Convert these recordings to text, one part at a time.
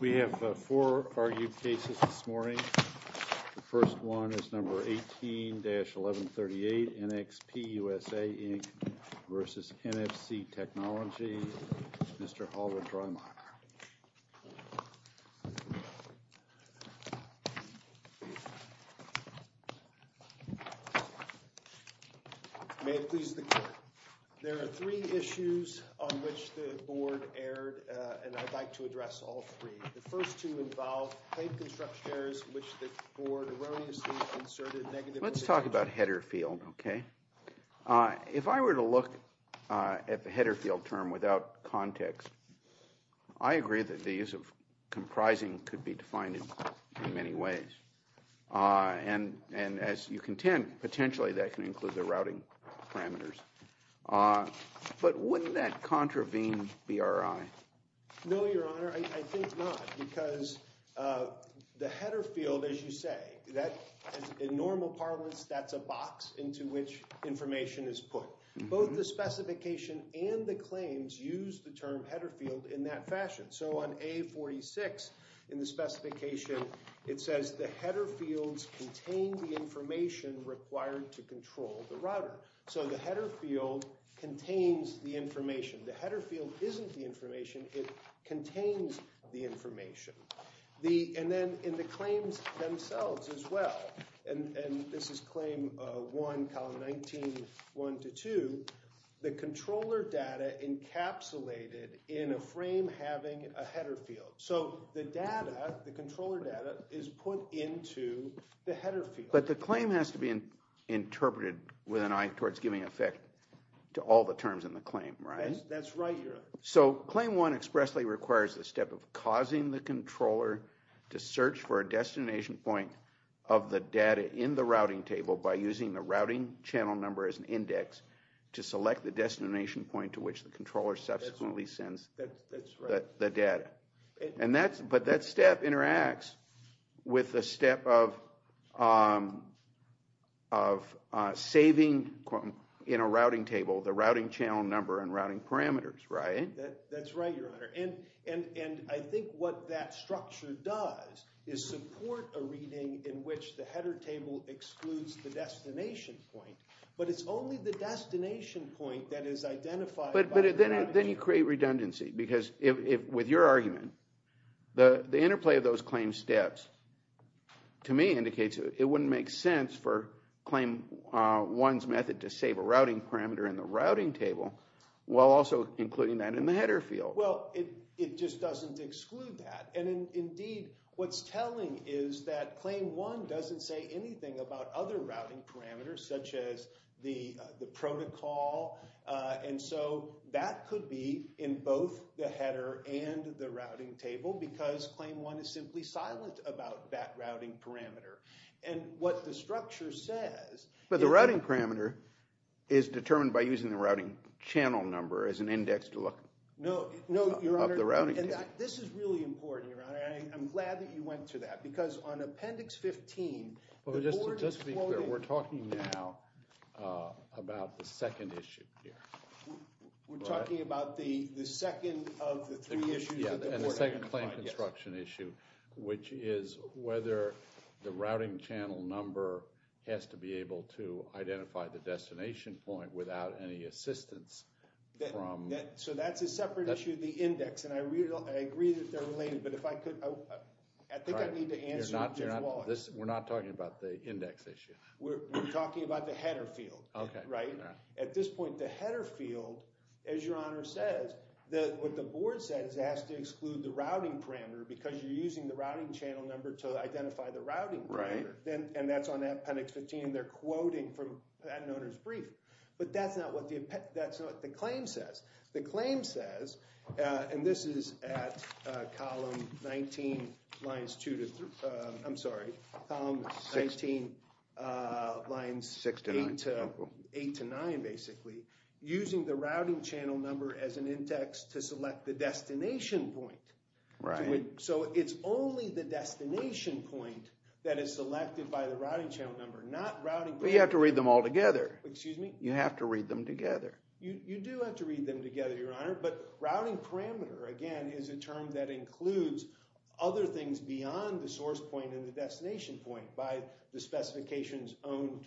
We have four argued cases this morning. The first one is number 18-1138, NXP USA, Inc. v. NFC Technology, Mr. Oliver Dreimeyer. There are three issues on which the board erred, and I'd like to address all three. The first two involve plate construction errors, which the board erroneously inserted negative information. Let's talk about header field. If I were to look at the header field term without context, I agree that the use of comprising could be defined in many ways. And as you contend, potentially that can include the routing parameters. But wouldn't that contravene BRI? No, Your Honor, I think not. Because the header field, as you say, in normal parlance, that's a box into which information is put. Both the specification and the claims use the term header field in that fashion. So on A46 in the specification, it says the header fields contain the information required to control the router. So the header field contains the information. The header field isn't the information, it contains the information. And then in the claims themselves as well, and this is claim 1, column 19, 1-2, the controller data encapsulated in a frame having a header field. So the data, the controller data, is put into the header field. But the claim has to be interpreted with an eye towards giving effect to all the terms in the claim, right? That's right, Your Honor. So claim 1 expressly requires the step of causing the controller to search for a destination point of the data in the routing table by using the routing channel number as an index to select the destination point to which the controller subsequently sends the data. That's right. But that step interacts with the step of saving in a routing table the routing channel number and routing parameters, right? That's right, Your Honor. And I think what that structure does is support a reading in which the header table excludes the destination point. But it's only the destination point that is identified by the router. But then you create redundancy, because with your argument, the interplay of those claim steps to me indicates it wouldn't make sense for claim 1's method to save a routing parameter in the routing table while also including that in the header field. Well, it just doesn't exclude that. And indeed, what's telling is that claim 1 doesn't say anything about other routing parameters, such as the protocol. And so that could be in both the header and the routing table, because claim 1 is simply silent about that routing parameter. And what the structure says is— But the routing parameter is determined by using the routing channel number as an index to look up the routing table. No, Your Honor. And this is really important, Your Honor. I'm glad that you went to that, because on Appendix 15, the board is quoting— Just to be clear, we're talking now about the second issue here, right? We're talking about the second of the three issues that the board identified, yes. Yeah, and the second claim construction issue, which is whether the routing channel number has to be able to identify the destination point without any assistance from— So that's a separate issue, the index. And I agree that they're related, but if I could— We're not talking about the index issue. We're talking about the header field, right? At this point, the header field, as Your Honor says, what the board says is it has to exclude the routing parameter, because you're using the routing channel number to identify the routing parameter. And that's on Appendix 15, and they're quoting from Patent Owner's Brief. But that's not what the claim says. The claim says, and this is at Column 19, Lines 2 to—I'm sorry, Column 19, Lines 8 to 9, basically, using the routing channel number as an index to select the destination point. Right. So it's only the destination point that is selected by the routing channel number, not routing— But you have to read them all together. Excuse me? You have to read them together. You do have to read them together, Your Honor, but routing parameter, again, is a term that includes other things beyond the source point and the destination point. By the specifications owned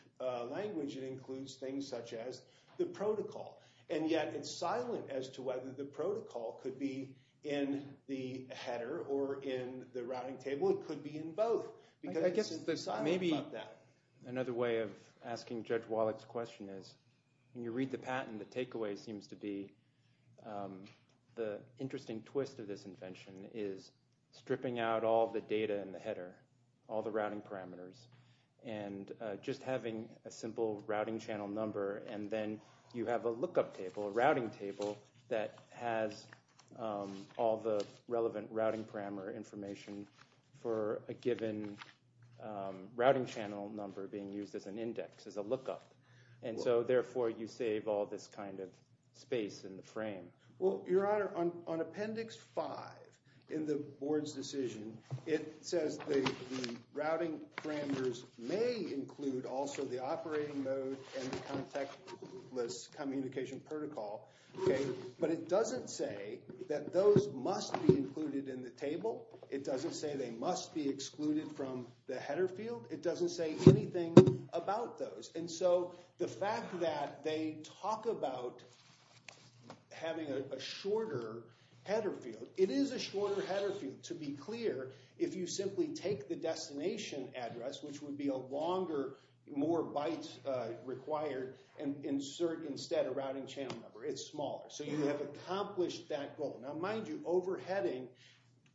language, it includes things such as the protocol. And yet, it's silent as to whether the protocol could be in the header or in the routing table. It could be in both, because it's silent about that. Another way of asking Judge Wallach's question is, when you read the patent, the takeaway seems to be the interesting twist of this invention is stripping out all the data in the header, all the routing parameters, and just having a simple routing channel number, and then you have a lookup table, a routing table, that has all the relevant routing parameter information for a given routing channel number being used as an index, as a lookup. And so, therefore, you save all this kind of space in the frame. Well, Your Honor, on Appendix 5 in the Board's decision, it says the routing parameters may include also the operating mode and the contactless communication protocol, but it doesn't say that those must be included in the table. It doesn't say they must be excluded from the header field. It doesn't say anything about those. And so, the fact that they talk about having a shorter header field, it is a shorter header field, to be clear, if you simply take the destination address, which would be a longer, more bytes required, and you have accomplished that goal. Now, mind you, overheading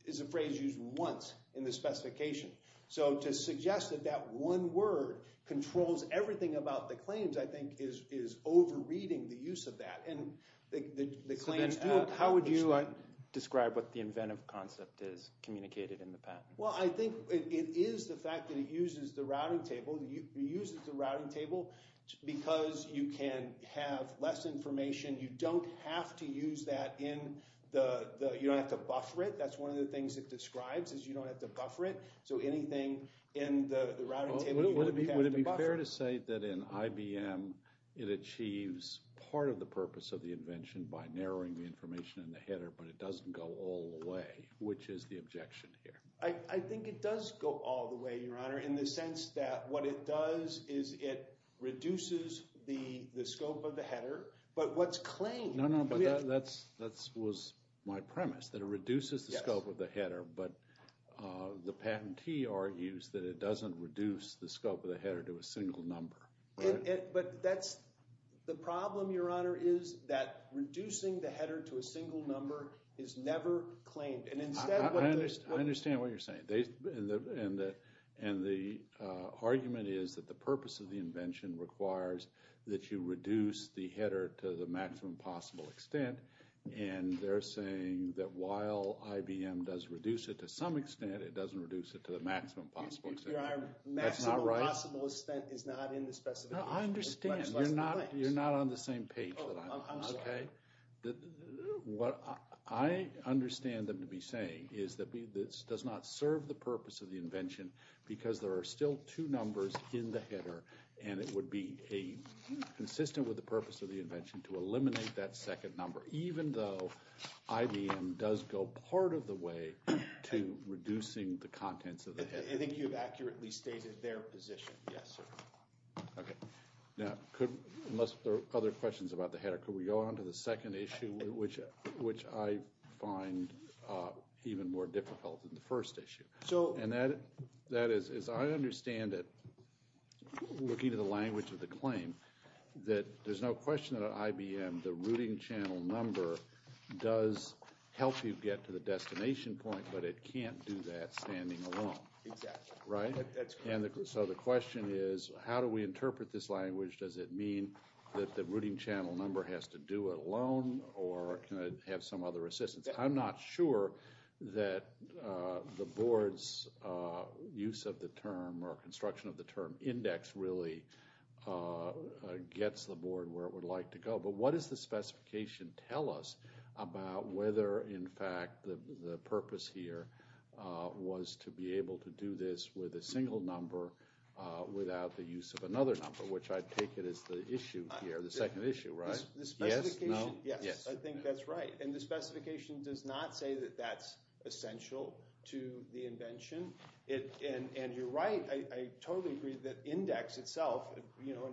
is a phrase used once in the specification. So, to suggest that that one word controls everything about the claims, I think, is over-reading the use of that, and the claims do accomplish that. So then, how would you describe what the inventive concept is communicated in the patent? Well, I think it is the fact that it uses the routing table because you can have less information. You don't have to use that in the, you don't have to buffer it. That's one of the things it describes, is you don't have to buffer it. So, anything in the routing table, you don't have to buffer. Would it be fair to say that in IBM, it achieves part of the purpose of the invention by narrowing the information in the header, but it doesn't go all the way, which is the objection here? I think it does go all the way, Your Honor, in the sense that what it does is it reduces the scope of the header, but what's claimed... No, no, but that was my premise, that it reduces the scope of the header, but the patentee argues that it doesn't reduce the scope of the header to a single number. But that's, the problem, Your Honor, is that reducing the header to a single number is never claimed, and instead... I understand what you're saying. And the argument is that the purpose of the invention requires that you reduce the header to the maximum possible extent, and they're saying that while IBM does reduce it to some extent, it doesn't reduce it to the maximum possible extent. Your Honor, maximum possible extent is not in the specification. No, I understand. You're not on the same page that I'm on, okay? But what I understand them to be saying is that this does not serve the purpose of the invention because there are still two numbers in the header, and it would be consistent with the purpose of the invention to eliminate that second number, even though IBM does go part of the way to reducing the contents of the header. I think you've accurately stated their position, yes, sir. Okay. Now, unless there are other questions about the header, could we go on to the second issue, which I find even more difficult than the first issue? And that is, as I understand it, looking at the language of the claim, that there's no question that on IBM, the routing channel number does help you get to the destination point, but it can't do that standing alone, right? So the question is, how do we interpret this language? Does it mean that the routing channel number has to do it alone, or can it have some other assistance? I'm not sure that the Board's use of the term or construction of the term index really gets the Board where it would like to go, but what does the specification tell us about whether, in fact, the purpose here was to be able to do this with a single number without the use of another number, which I take it is the issue here, the second issue, right? The specification, yes, I think that's right. And the specification does not say that that's essential to the invention. And you're right, I totally agree that index itself, you know,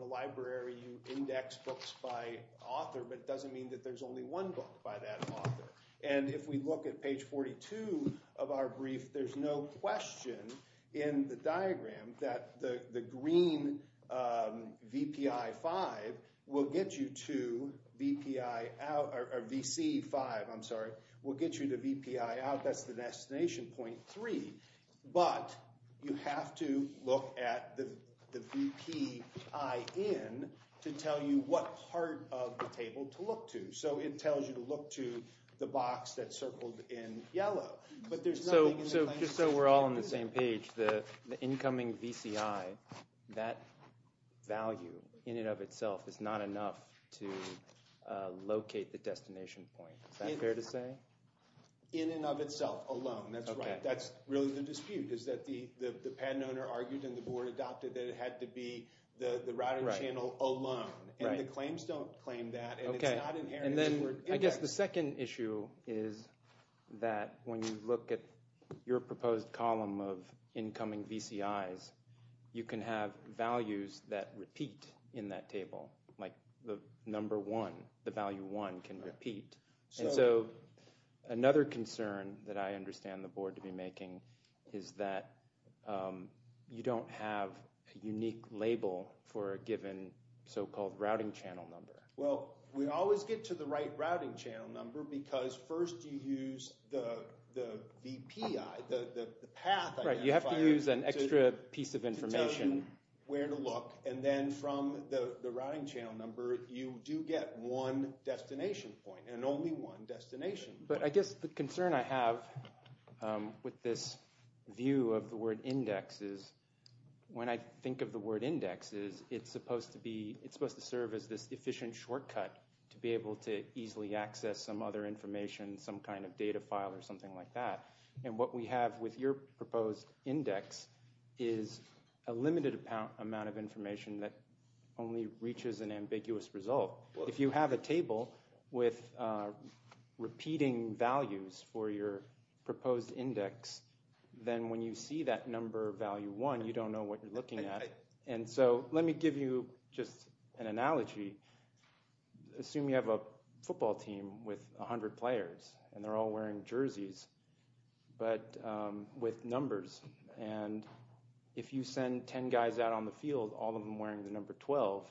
and if we look at page 42 of our brief, there's no question in the diagram that the green VPI5 will get you to VPI out, or VC5, I'm sorry, will get you to VPI out, that's the destination point three, but you have to look at the VPI in to tell you what part of the table to look to. So it tells you to look to the box that's circled in yellow. So just so we're all on the same page, the incoming VCI, that value in and of itself is not enough to locate the destination point, is that fair to say? In and of itself alone, that's right, that's really the dispute, is that the patent owner argued and the Board adopted that it had to be the routing channel alone, and the claims don't claim that, and it's not inherent. And then I guess the second issue is that when you look at your proposed column of incoming VCIs, you can have values that repeat in that table, like the number one, the value one can repeat. And so another concern that I have is the so-called routing channel number. Well, we always get to the right routing channel number because first you use the VPI, the path identifier. Right, you have to use an extra piece of information to tell you where to look, and then from the routing channel number you do get one destination point, and only one destination. But I guess the concern I have with this view of the word index is, when I think of the word index, is it's supposed to be, it's supposed to serve as this efficient shortcut to be able to easily access some other information, some kind of data file or something like that. And what we have with your proposed index is a limited amount of information that only reaches an ambiguous result. If you have a table with repeating values for your proposed index, then when you see that number value one, you don't know what you're looking at. And so let me give you just an analogy. Assume you have a football team with 100 players, and they're all wearing jerseys, but with numbers. And if you send 10 guys out on the field, all of them wearing the number 12,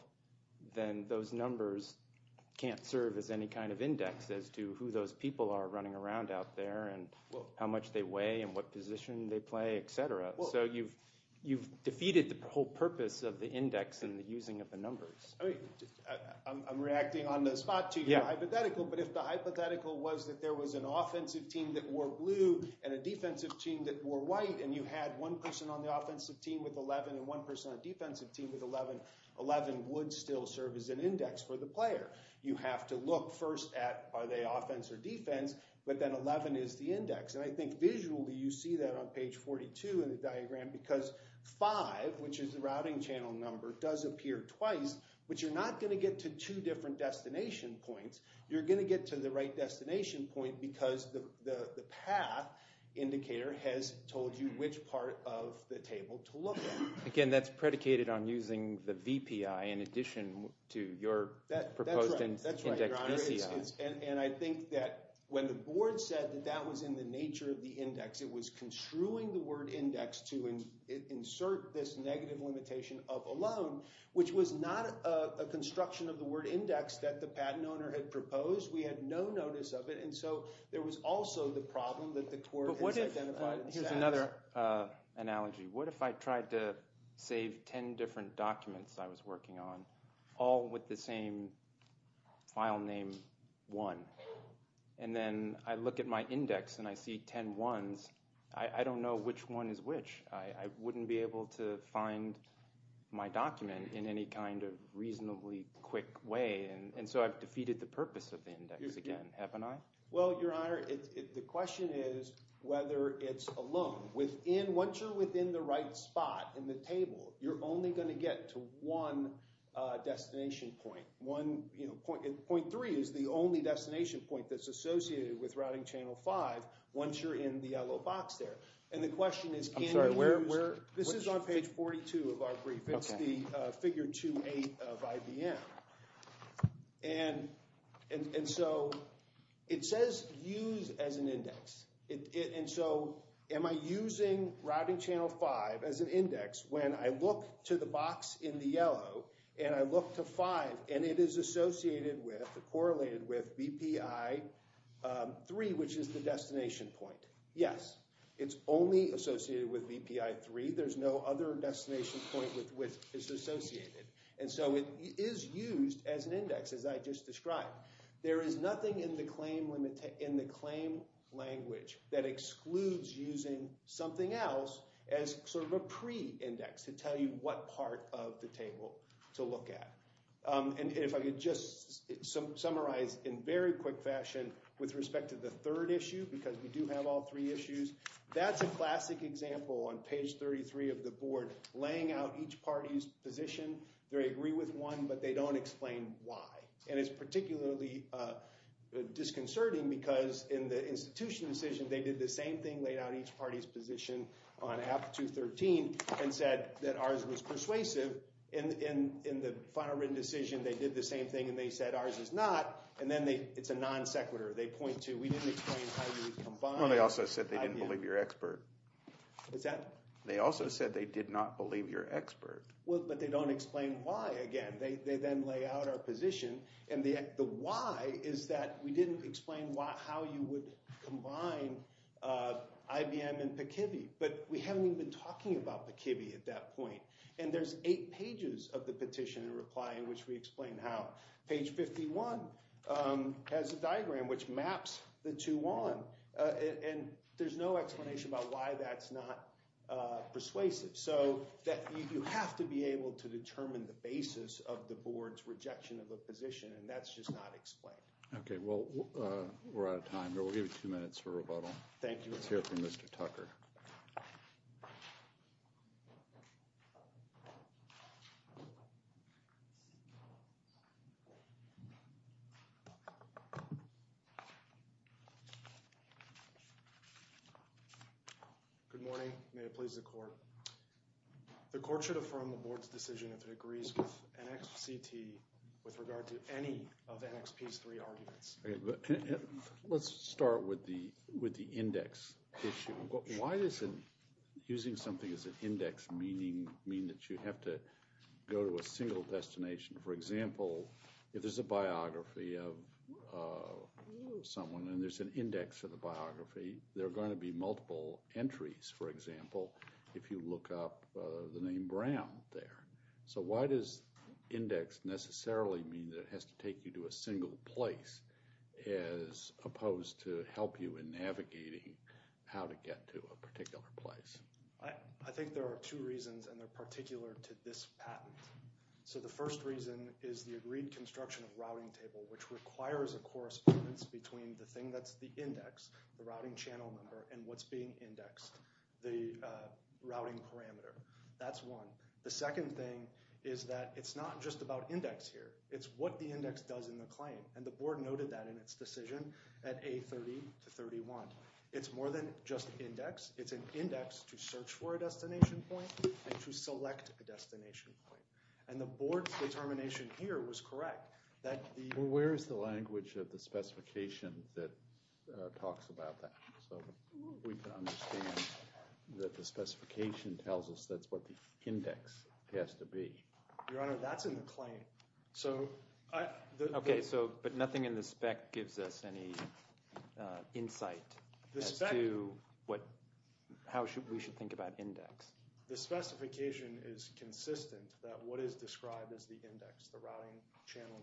then those numbers can't serve as any kind of index as to who those people are running around out there, and how much they weigh, and what position they play, etc. So you've defeated the whole purpose of the index and the using of the numbers. I'm reacting on the spot to your hypothetical, but if the hypothetical was that there was an offensive team that wore blue and a defensive team that wore white, and you had one person on the offensive team with 11 and one person on the defensive team with 11, 11 would still serve as an index for the player. You have to look first at, are they offense or defense, but then 11 is the index. And I think visually you see that on page 42 in the diagram because five, which is the routing channel number, does appear twice, but you're not going to get to two different destination points. You're going to get to the right destination point because the path indicator has told you which part of the table to look at. Again, that's predicated on using the VPI in addition to your proposed index VCI. That's right, and I think that when the board said that that was in the nature of the index, it was construing the word index to insert this negative limitation of a loan, which was not a construction of the word index that the patent owner had proposed. We had no notice of it, and so there was also the problem that the court has identified. Here's another analogy. What if I tried to save 10 different documents I was working on, all with the same file name one, and then I look at my index and I see 10 ones. I don't know which one is which. I wouldn't be able to find my document in any kind of reasonably quick way, and so I've defeated the purpose of the index again, haven't I? Well, Your Honor, the index is also within the right spot in the table. You're only going to get to one destination point. Point 3 is the only destination point that's associated with routing channel 5 once you're in the yellow box there, and the question is, can you use... This is on page 42 of our brief. It's the figure 2-8 of IBM, and so it says use as an index when I look to the box in the yellow, and I look to 5, and it is associated with, correlated with BPI 3, which is the destination point. Yes, it's only associated with BPI 3. There's no other destination point with which it's associated, and so it is used as an index, as I just described. There is nothing in the claim language that excludes using something else as sort of a pre-index to tell you what part of the table to look at, and if I could just summarize in very quick fashion with respect to the third issue, because we do have all three issues, that's a classic example on page 33 of the board, laying out each party's position. They agree with one, but they don't explain why, and it's particularly disconcerting because in the institutional decision, they did the same thing, laid out each party's position on app 213, and said that ours was persuasive, and in the final written decision, they did the same thing, and they said ours is not, and then they... It's a non-sequitur. They point to, we didn't explain how you combine... Well, they also said they didn't believe your expert. What's that? They also said they did not believe your expert. Well, but they don't explain why again. They then lay out our position, and the why is that we didn't explain how you would combine IBM and PCIVI, but we haven't even been talking about PCIVI at that point, and there's eight pages of the petition in reply in which we explain how. Page 51 has a diagram which maps the two on, and there's no explanation about why that's not persuasive, so that you have to be able to determine the basis of the board's rejection of a Okay, well, we're out of time, but we'll give you two minutes for rebuttal. Thank you. Let's hear from Mr. Tucker. Good morning. May it please the court. The court should affirm the board's decision if it agrees with NXPCT with regard to any of NXP's three arguments. Let's start with the index issue. Why does using something as an index mean that you have to go to a single destination? For example, if there's a biography of someone and there's an index for the biography, there are going to be multiple entries, for example, if you look up the name Brown there. So why does index necessarily mean that it has to take you to a single place as opposed to help you in navigating how to get to a particular place? I think there are two reasons, and they're particular to this patent. So the first reason is the agreed construction of routing table, which requires a correspondence between the thing that's the index, the routing channel number, and what's is that it's not just about index here. It's what the index does in the claim, and the board noted that in its decision at A30 to 31. It's more than just an index. It's an index to search for a destination point and to select a destination point, and the board's determination here was correct. Where is the language of the specification that talks about that so we can understand that the specification tells us that's what the index has to be? Your Honor, that's in the claim. Okay, but nothing in the spec gives us any insight as to how we should think about index. The specification is consistent that what is described as the index, the routing channel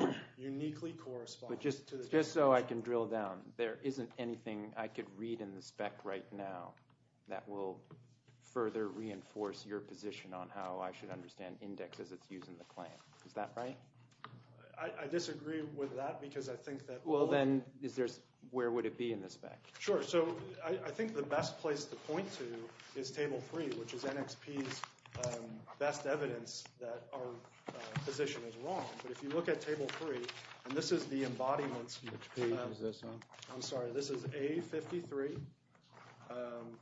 number, uniquely corresponds. But just so I can drill down, there isn't anything I could read in the spec right now that will further reinforce your position on how I should understand index as it's used in the claim. Is that right? I disagree with that because I think that... Well then, is there, where would it be in the spec? Sure, so I think the best place to point to is table three, which is NXP's best evidence that our position is wrong. But if you look at table three, and this is the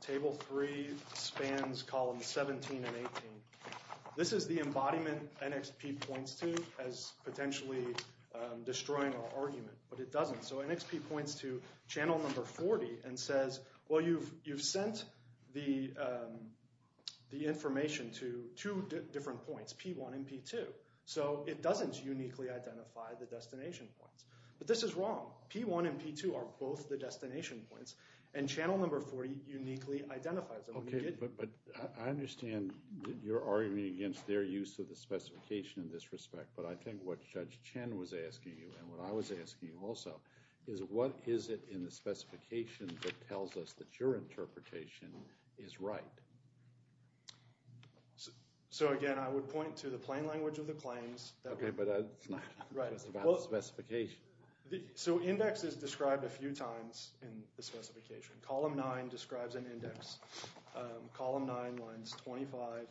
table three spans columns 17 and 18, this is the embodiment NXP points to as potentially destroying our argument, but it doesn't. So NXP points to channel number 40 and says, well you've sent the information to two different points, P1 and P2, so it doesn't uniquely identify the channel number 40 uniquely identifies it. Okay, but I understand you're arguing against their use of the specification in this respect, but I think what Judge Chen was asking you, and what I was asking you also, is what is it in the specification that tells us that your interpretation is right? So again, I would point to the plain language of the claims. Okay, but it's not about the specification. Column 9 describes an index. Column 9 lines 25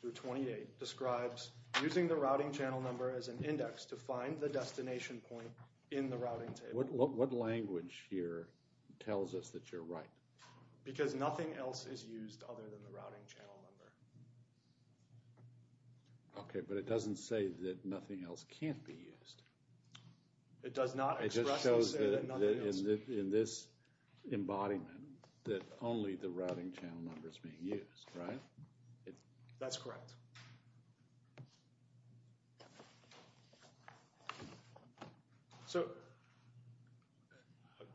through 28 describes using the routing channel number as an index to find the destination point in the routing table. What language here tells us that you're right? Because nothing else is used other than the routing channel number. Okay, but it doesn't say that nothing else can't be used. It just shows that in this embodiment that only the routing channel number is being used, right? That's correct. So,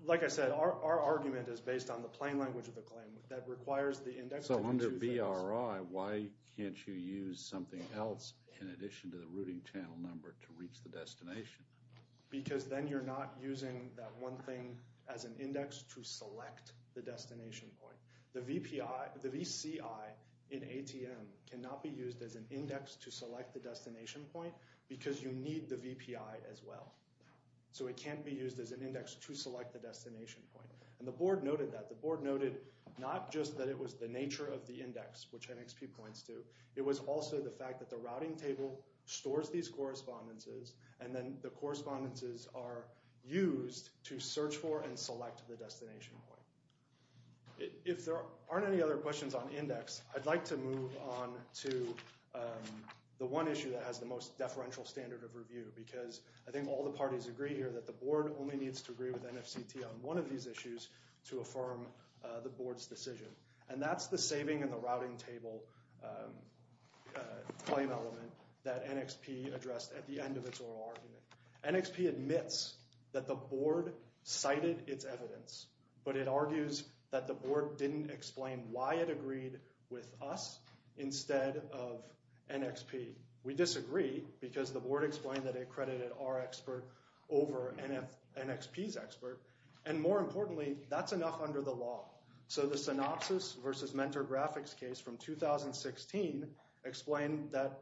like I said, our argument is based on the plain language of the claim that requires the index. So under BRI, why can't you use something else in addition to the routing channel number to reach the destination? Because then you're not using that one thing as an index to select the destination point. The VCI in ATM cannot be used as an index to select the destination point because you need the VPI as well. So it can't be used as an index to select the destination point, and the board noted that. The board noted not just that it was the nature of the index, which NXP points to, it was also the fact that the routing table stores these correspondences, and then the correspondences are used to search for and select the destination point. If there aren't any other questions on index, I'd like to move on to the one issue that has the most deferential standard of review because I think all the parties agree here that the board only needs to agree with NFCT on one of these issues to affirm the board's decision. And that's the saving in the routing table claim element that NXP addressed at the end of its oral argument. NXP admits that the board cited its evidence, but it argues that the board didn't explain why it agreed with us instead of NXP. We disagree because the board explained that it credited our expert over NXP's expert, and more importantly, that's enough under the law. So the synopsis versus mentor graphics case from 2016 explained that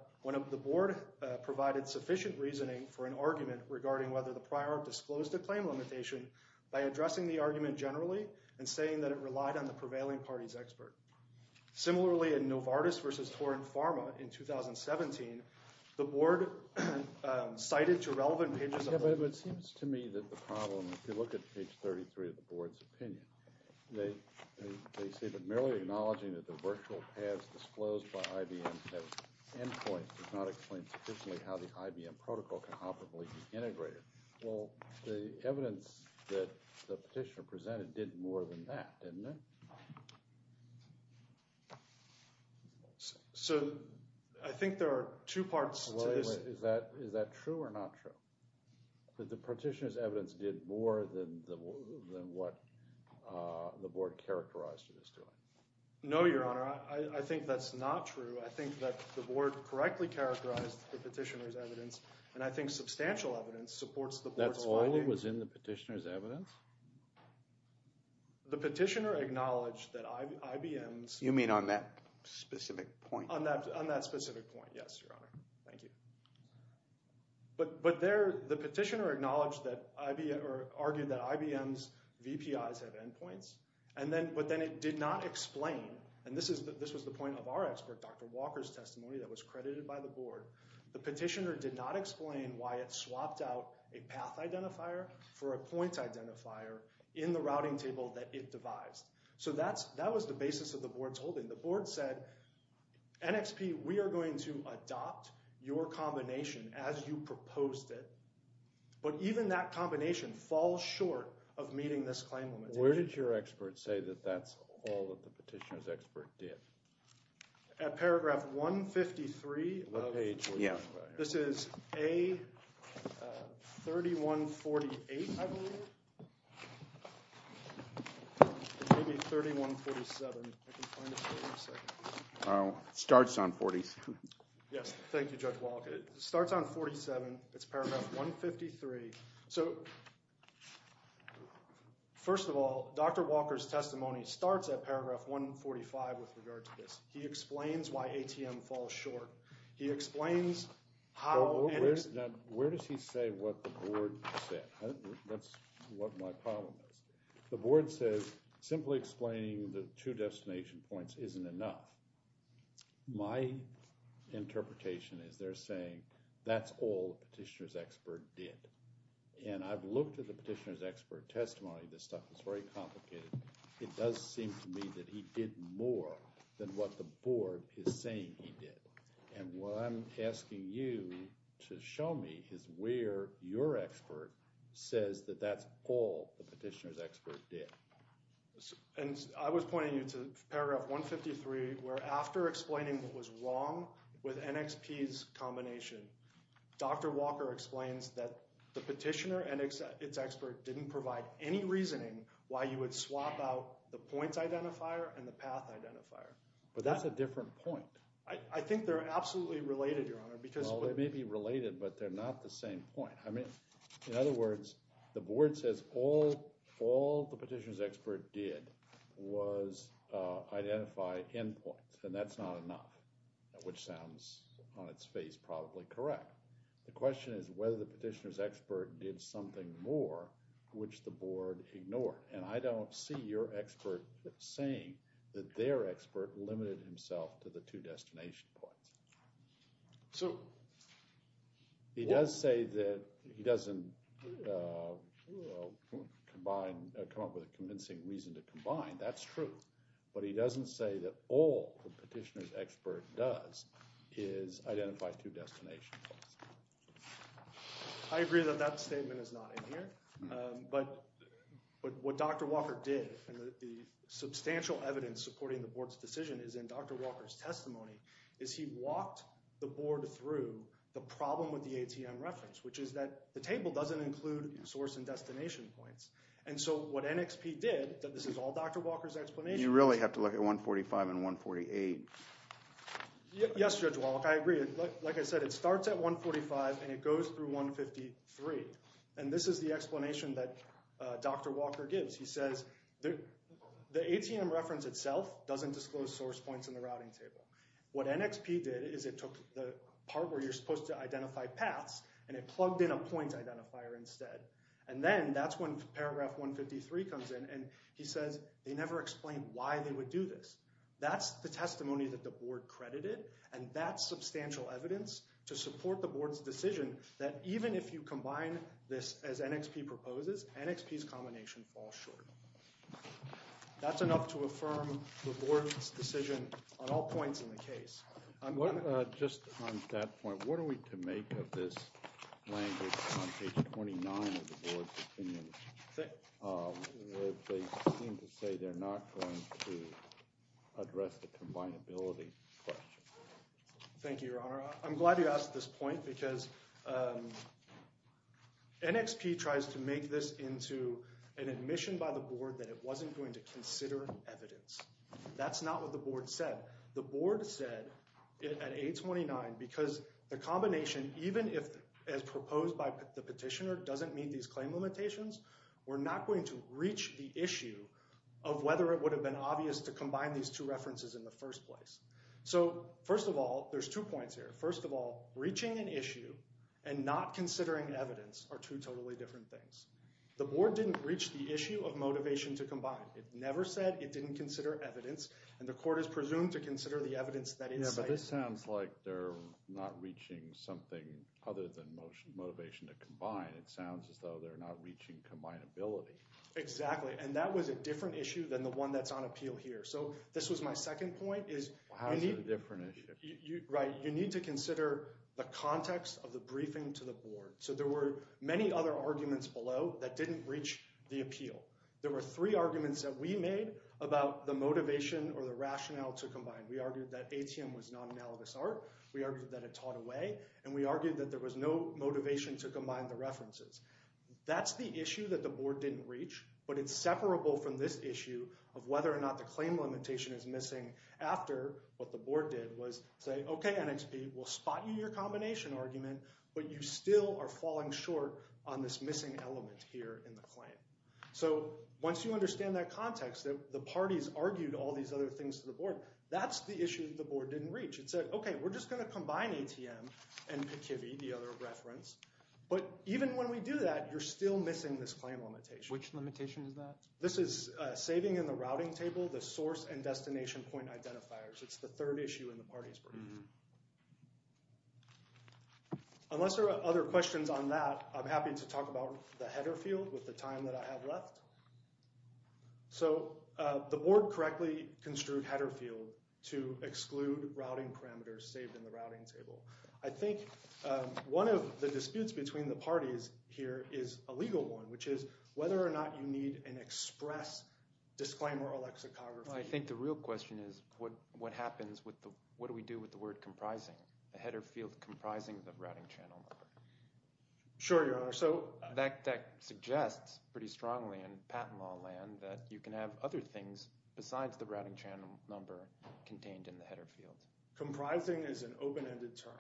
the board provided sufficient reasoning for an argument regarding whether the prior disclosed a claim limitation by addressing the argument generally and saying that it relied on the prevailing party's expert. Similarly, in Novartis versus Torin Pharma in 2017, the board cited two relevant pages. It seems to me that the problem, if you look at page 33 of the statement, merely acknowledging that the virtual paths disclosed by IBM have endpoints does not explain sufficiently how the IBM protocol can optically be integrated. Well, the evidence that the petitioner presented did more than that, didn't it? So I think there are two parts to this. Is that true or not true? That the petitioner's evidence is more than what the board characterized it as doing? No, Your Honor. I think that's not true. I think that the board correctly characterized the petitioner's evidence, and I think substantial evidence supports the board's finding. That's all that was in the petitioner's evidence? The petitioner acknowledged that IBM's— You mean on that specific point? On that specific point, yes, Your Honor. Thank you. But there, the petitioner acknowledged that—argued that IBM's VPIs have endpoints, and then—but then it did not explain—and this was the point of our expert, Dr. Walker's testimony that was credited by the board—the petitioner did not explain why it swapped out a path identifier for a point identifier in the routing table that it devised. So that was the basis of the board's holding. The board said, NXP, we are going to adopt your combination as you proposed it, but even that combination falls short of meeting this claim limitation. Where did your expert say that that's all that the petitioner's expert did? At paragraph 153 of— What page were you talking about here? This is A3148, I believe. Maybe A3147, if I can find it here in a second. Oh, it starts on 47. Yes, thank you, Judge Walker. It starts on 47. It's paragraph 153. So, first of all, Dr. Walker's testimony starts at paragraph 145 with regard to this. He explains why ATM falls short. He explains how— Where does he say what the board said? That's what my problem is. The board says simply explaining the two destination points isn't enough. My interpretation is they're saying that's all the petitioner's expert did. And I've looked at the petitioner's expert testimony. This stuff is very complicated. It does seem to me that he did more than what the board is saying he did. And what I'm asking you to show me is where your expert says that that's all the petitioner's expert did. And I was pointing you to paragraph 153 where after explaining what was wrong with NXP's combination, Dr. Walker explains that the petitioner and its expert didn't provide any reasoning why you would swap out the points identifier and the path identifier. But that's a different point. I think they're absolutely related, Your Honor, because— Well, they may be related, but they're not the same point. I mean, in other words, the board says all the petitioner's expert did was identify endpoints, and that's not enough, which sounds on its face probably correct. The question is whether the petitioner's expert did something more which the board ignored. And I don't see your expert saying that their expert limited himself to the two destination points. So— He does say that he doesn't combine—come up with a convincing reason to combine. That's true. But he doesn't say that all the petitioner's expert does is identify two destinations. I agree that that statement is not in here. But what Dr. Walker did, and the substantial evidence supporting the board's decision is in Dr. Walker's testimony, is he walked the board through the problem with the ATM reference, which is that the table doesn't include source and destination points. And so what NXP did—this is all Dr. Walker's explanation— You really have to look at 145 and 148. Yes, Judge Walk. I agree. Like I said, it starts at 145 and it goes through 153. And this is the explanation that Dr. Walker gives. He says the ATM reference itself doesn't disclose source points in the routing table. What NXP did is it took the part where you're supposed to identify paths and it plugged in a point identifier instead. And then that's when paragraph 153 comes in and he says they never explained why they would do this. That's the testimony that the board credited and that substantial evidence to support the this. As NXP proposes, NXP's combination falls short. That's enough to affirm the board's decision on all points in the case. Just on that point, what are we to make of this language on page 29 of the board's opinion where they seem to say they're not going to address the combinability question? Thank you, Your Honor. I'm glad you asked this point because NXP tries to make this into an admission by the board that it wasn't going to consider evidence. That's not what the board said. The board said at 829 because the combination, even if as proposed by the petitioner, doesn't meet these claim limitations, we're not going to reach the issue of whether it would have been obvious to combine these two references in the first place. So first of all, there's two points here. First of all, reaching an issue and not considering evidence are two totally different things. The board didn't reach the issue of motivation to combine. It never said it didn't consider evidence and the court is presumed to consider the evidence that it cited. Yeah, but this sounds like they're not reaching something other than motivation to combine. It sounds as though they're not reaching combinability. Exactly. And that was a different issue than the one that's on appeal here. This was my second point. Well, how is it a different issue? Right. You need to consider the context of the briefing to the board. So there were many other arguments below that didn't reach the appeal. There were three arguments that we made about the motivation or the rationale to combine. We argued that ATM was non-analogous art. We argued that it taught away, and we argued that there was no motivation to combine the references. That's the issue that the board didn't reach, but it's separable from this issue of whether or not the claim limitation is missing after what the board did was say, okay, NXP, we'll spot you in your combination argument, but you still are falling short on this missing element here in the claim. So once you understand that context that the parties argued all these other things to the board, that's the issue that the board didn't reach. It said, okay, we're just going to combine ATM and PCIVI, the other reference, but even when we do that, you're still missing this claim limitation. Which limitation is that? This is saving in the routing table, the source and destination point identifiers. It's the third issue in the parties' brief. Unless there are other questions on that, I'm happy to talk about the header field with the time that I have left. So the board correctly construed header field to exclude routing parameters saved in the routing table. I think one of the disputes between the parties here is a legal one, which is whether or not you need an express disclaimer or lexicography. I think the real question is what happens with the—what do we do with the word comprising, the header field comprising the routing channel number? Sure, Your Honor. So— That suggests pretty strongly in patent law land that you can have other things besides the routing channel number contained in the header field. Comprising is an open-ended term,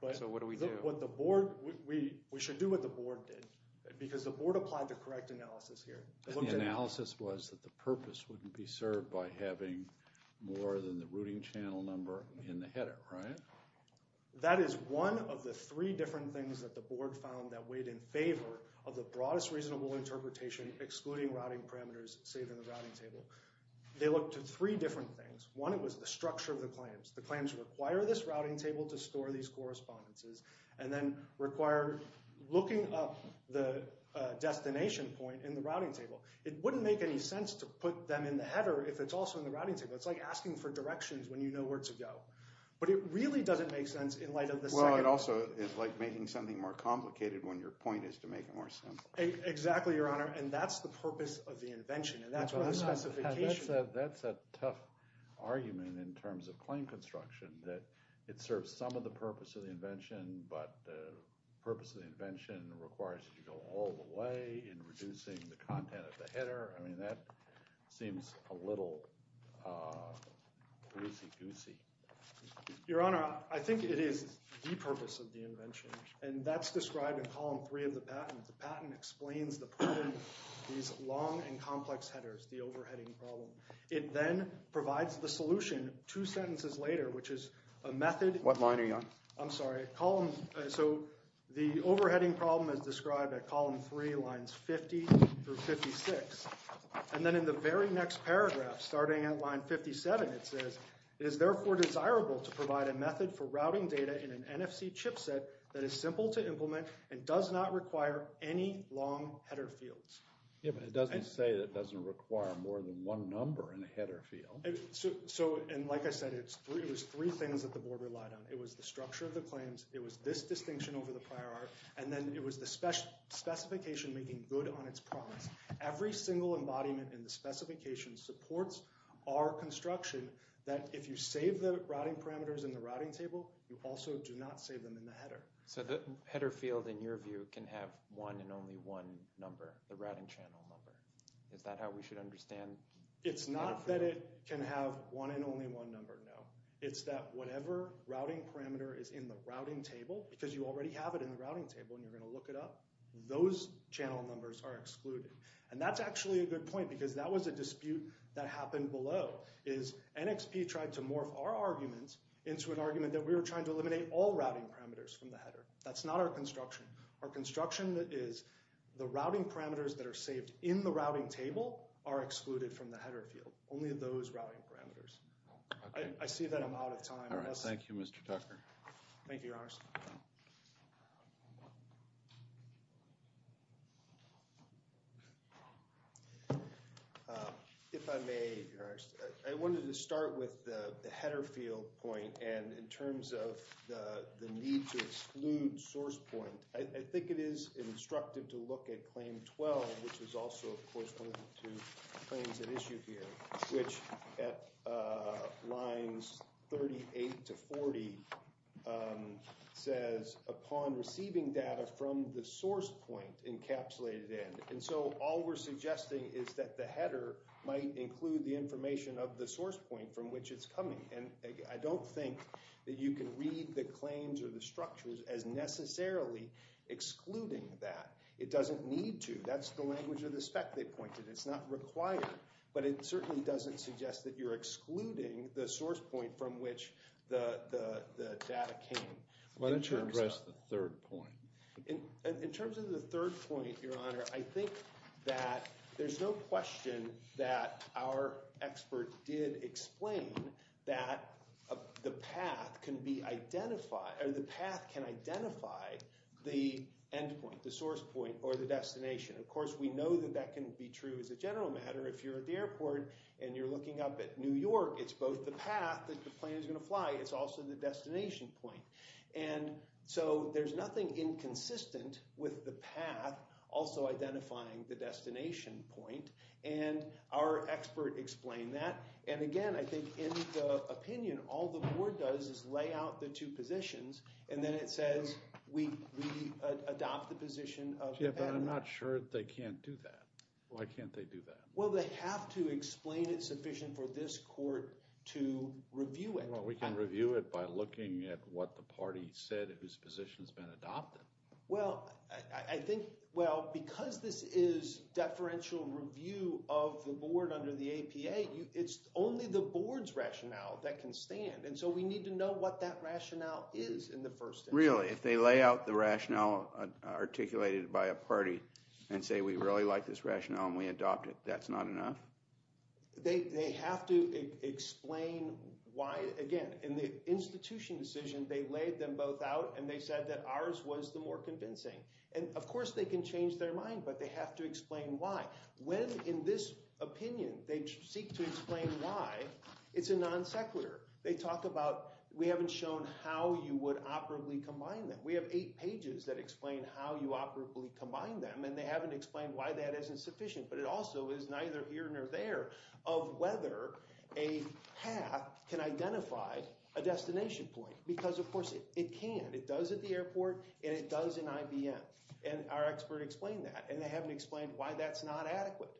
but— So what do we do? What the board—we should do what the board did. Because the board applied the correct analysis here. The analysis was that the purpose wouldn't be served by having more than the routing channel number in the header, right? That is one of the three different things that the board found that weighed in favor of the broadest reasonable interpretation excluding routing parameters saved in the routing table. They looked at three different things. One, it was the structure of the claims. The claims require this routing table to store these correspondences and then require looking up the destination point in the routing table. It wouldn't make any sense to put them in the header if it's also in the routing table. It's like asking for directions when you know where to go. But it really doesn't make sense in light of the second— Well, it also is like making something more complicated when your point is to make it more simple. Exactly, Your Honor. And that's the purpose of the invention. And that's where the specification— That's a tough argument in terms of claim construction that it serves some of the purpose of the invention. But the purpose of the invention requires you to go all the way in reducing the content of the header. I mean, that seems a little goosey-goosey. Your Honor, I think it is the purpose of the invention. And that's described in column three of the patent. The patent explains the problem, these long and complex headers, the overheading problem. It then provides the solution two sentences later, which is a method— What line are you on? I'm sorry, column— So the overheading problem is described at column three, lines 50 through 56. And then in the very next paragraph, starting at line 57, it says, it is therefore desirable to provide a method for routing data in an NFC chipset that is simple to implement and does not require any long header fields. Yeah, but it doesn't say that it doesn't require more than one number in a header field. And like I said, it was three things that the board relied on. It was the structure of the claims. It was this distinction over the prior art. And then it was the specification making good on its promise. Every single embodiment in the specification supports our construction that if you save the routing parameters in the routing table, you also do not save them in the header. So the header field, in your view, can have one and only one number, the routing channel number. Is that how we should understand— It's not that it can have one and only one number, no. It's that whatever routing parameter is in the routing table, because you already have it in the routing table and you're going to look it up, those channel numbers are excluded. And that's actually a good point because that was a dispute that happened below, is NXP tried to morph our arguments into an argument that we were trying to eliminate all routing parameters from the header. That's not our construction. Our construction is the routing parameters that are saved in the routing table are excluded from the header field, only those routing parameters. I see that I'm out of time. All right. Thank you, Mr. Tucker. Thank you, Your Honor. If I may, Your Honor. I wanted to start with the header field point and in terms of the need to exclude source point. I think it is instructive to look at Claim 12, which is also, of course, to claims at issue here, which at lines 38 to 40 says, upon receiving data from the source point encapsulated in. And so all we're suggesting is that the header might include the information of the source point from which it's coming. And I don't think that you can read the claims or the structures as necessarily excluding that. It doesn't need to. That's the language of the spec they pointed. It's not required. But it certainly doesn't suggest that you're excluding the source point from which the data came. Why don't you address the third point? In terms of the third point, Your Honor, I think that there's no question that our expert did explain that the path can identify the endpoint, the source point, or the destination. Of course, we know that that can be true as a general matter. If you're at the airport and you're looking up at New York, it's both the path that the plane is going to fly. It's also the destination point. And so there's nothing inconsistent with the path also identifying the destination point. And our expert explained that. And again, I think in the opinion, all the board does is lay out the two positions and then it says we adopt the position of the path. I'm not sure they can't do that. Why can't they do that? Well, they have to explain it sufficient for this court to review it. Well, we can review it by looking at what the party said whose position has been adopted. Well, I think, well, because this is deferential review of the board under the APA, it's only the board's rationale that can stand. And so we need to know what that rationale is in the first instance. If they lay out the rationale articulated by a party and say, we really like this rationale and we adopt it, that's not enough? They have to explain why. Again, in the institution decision, they laid them both out and they said that ours was the more convincing. And of course, they can change their mind, but they have to explain why. When, in this opinion, they seek to explain why, it's a non sequitur. They talk about, we haven't shown how you would operably combine them. We have eight pages that explain how you operably combine them, and they haven't explained why that isn't sufficient. But it also is neither here nor there of whether a path can identify a destination point. Because, of course, it can. It does at the airport and it does in IBM. And our expert explained that. And they haven't explained why that's not adequate.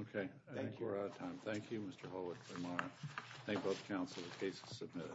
OK, I think we're out of time. Thank you, Mr. Holwick-Lamar. I thank both counsel. The case is submitted.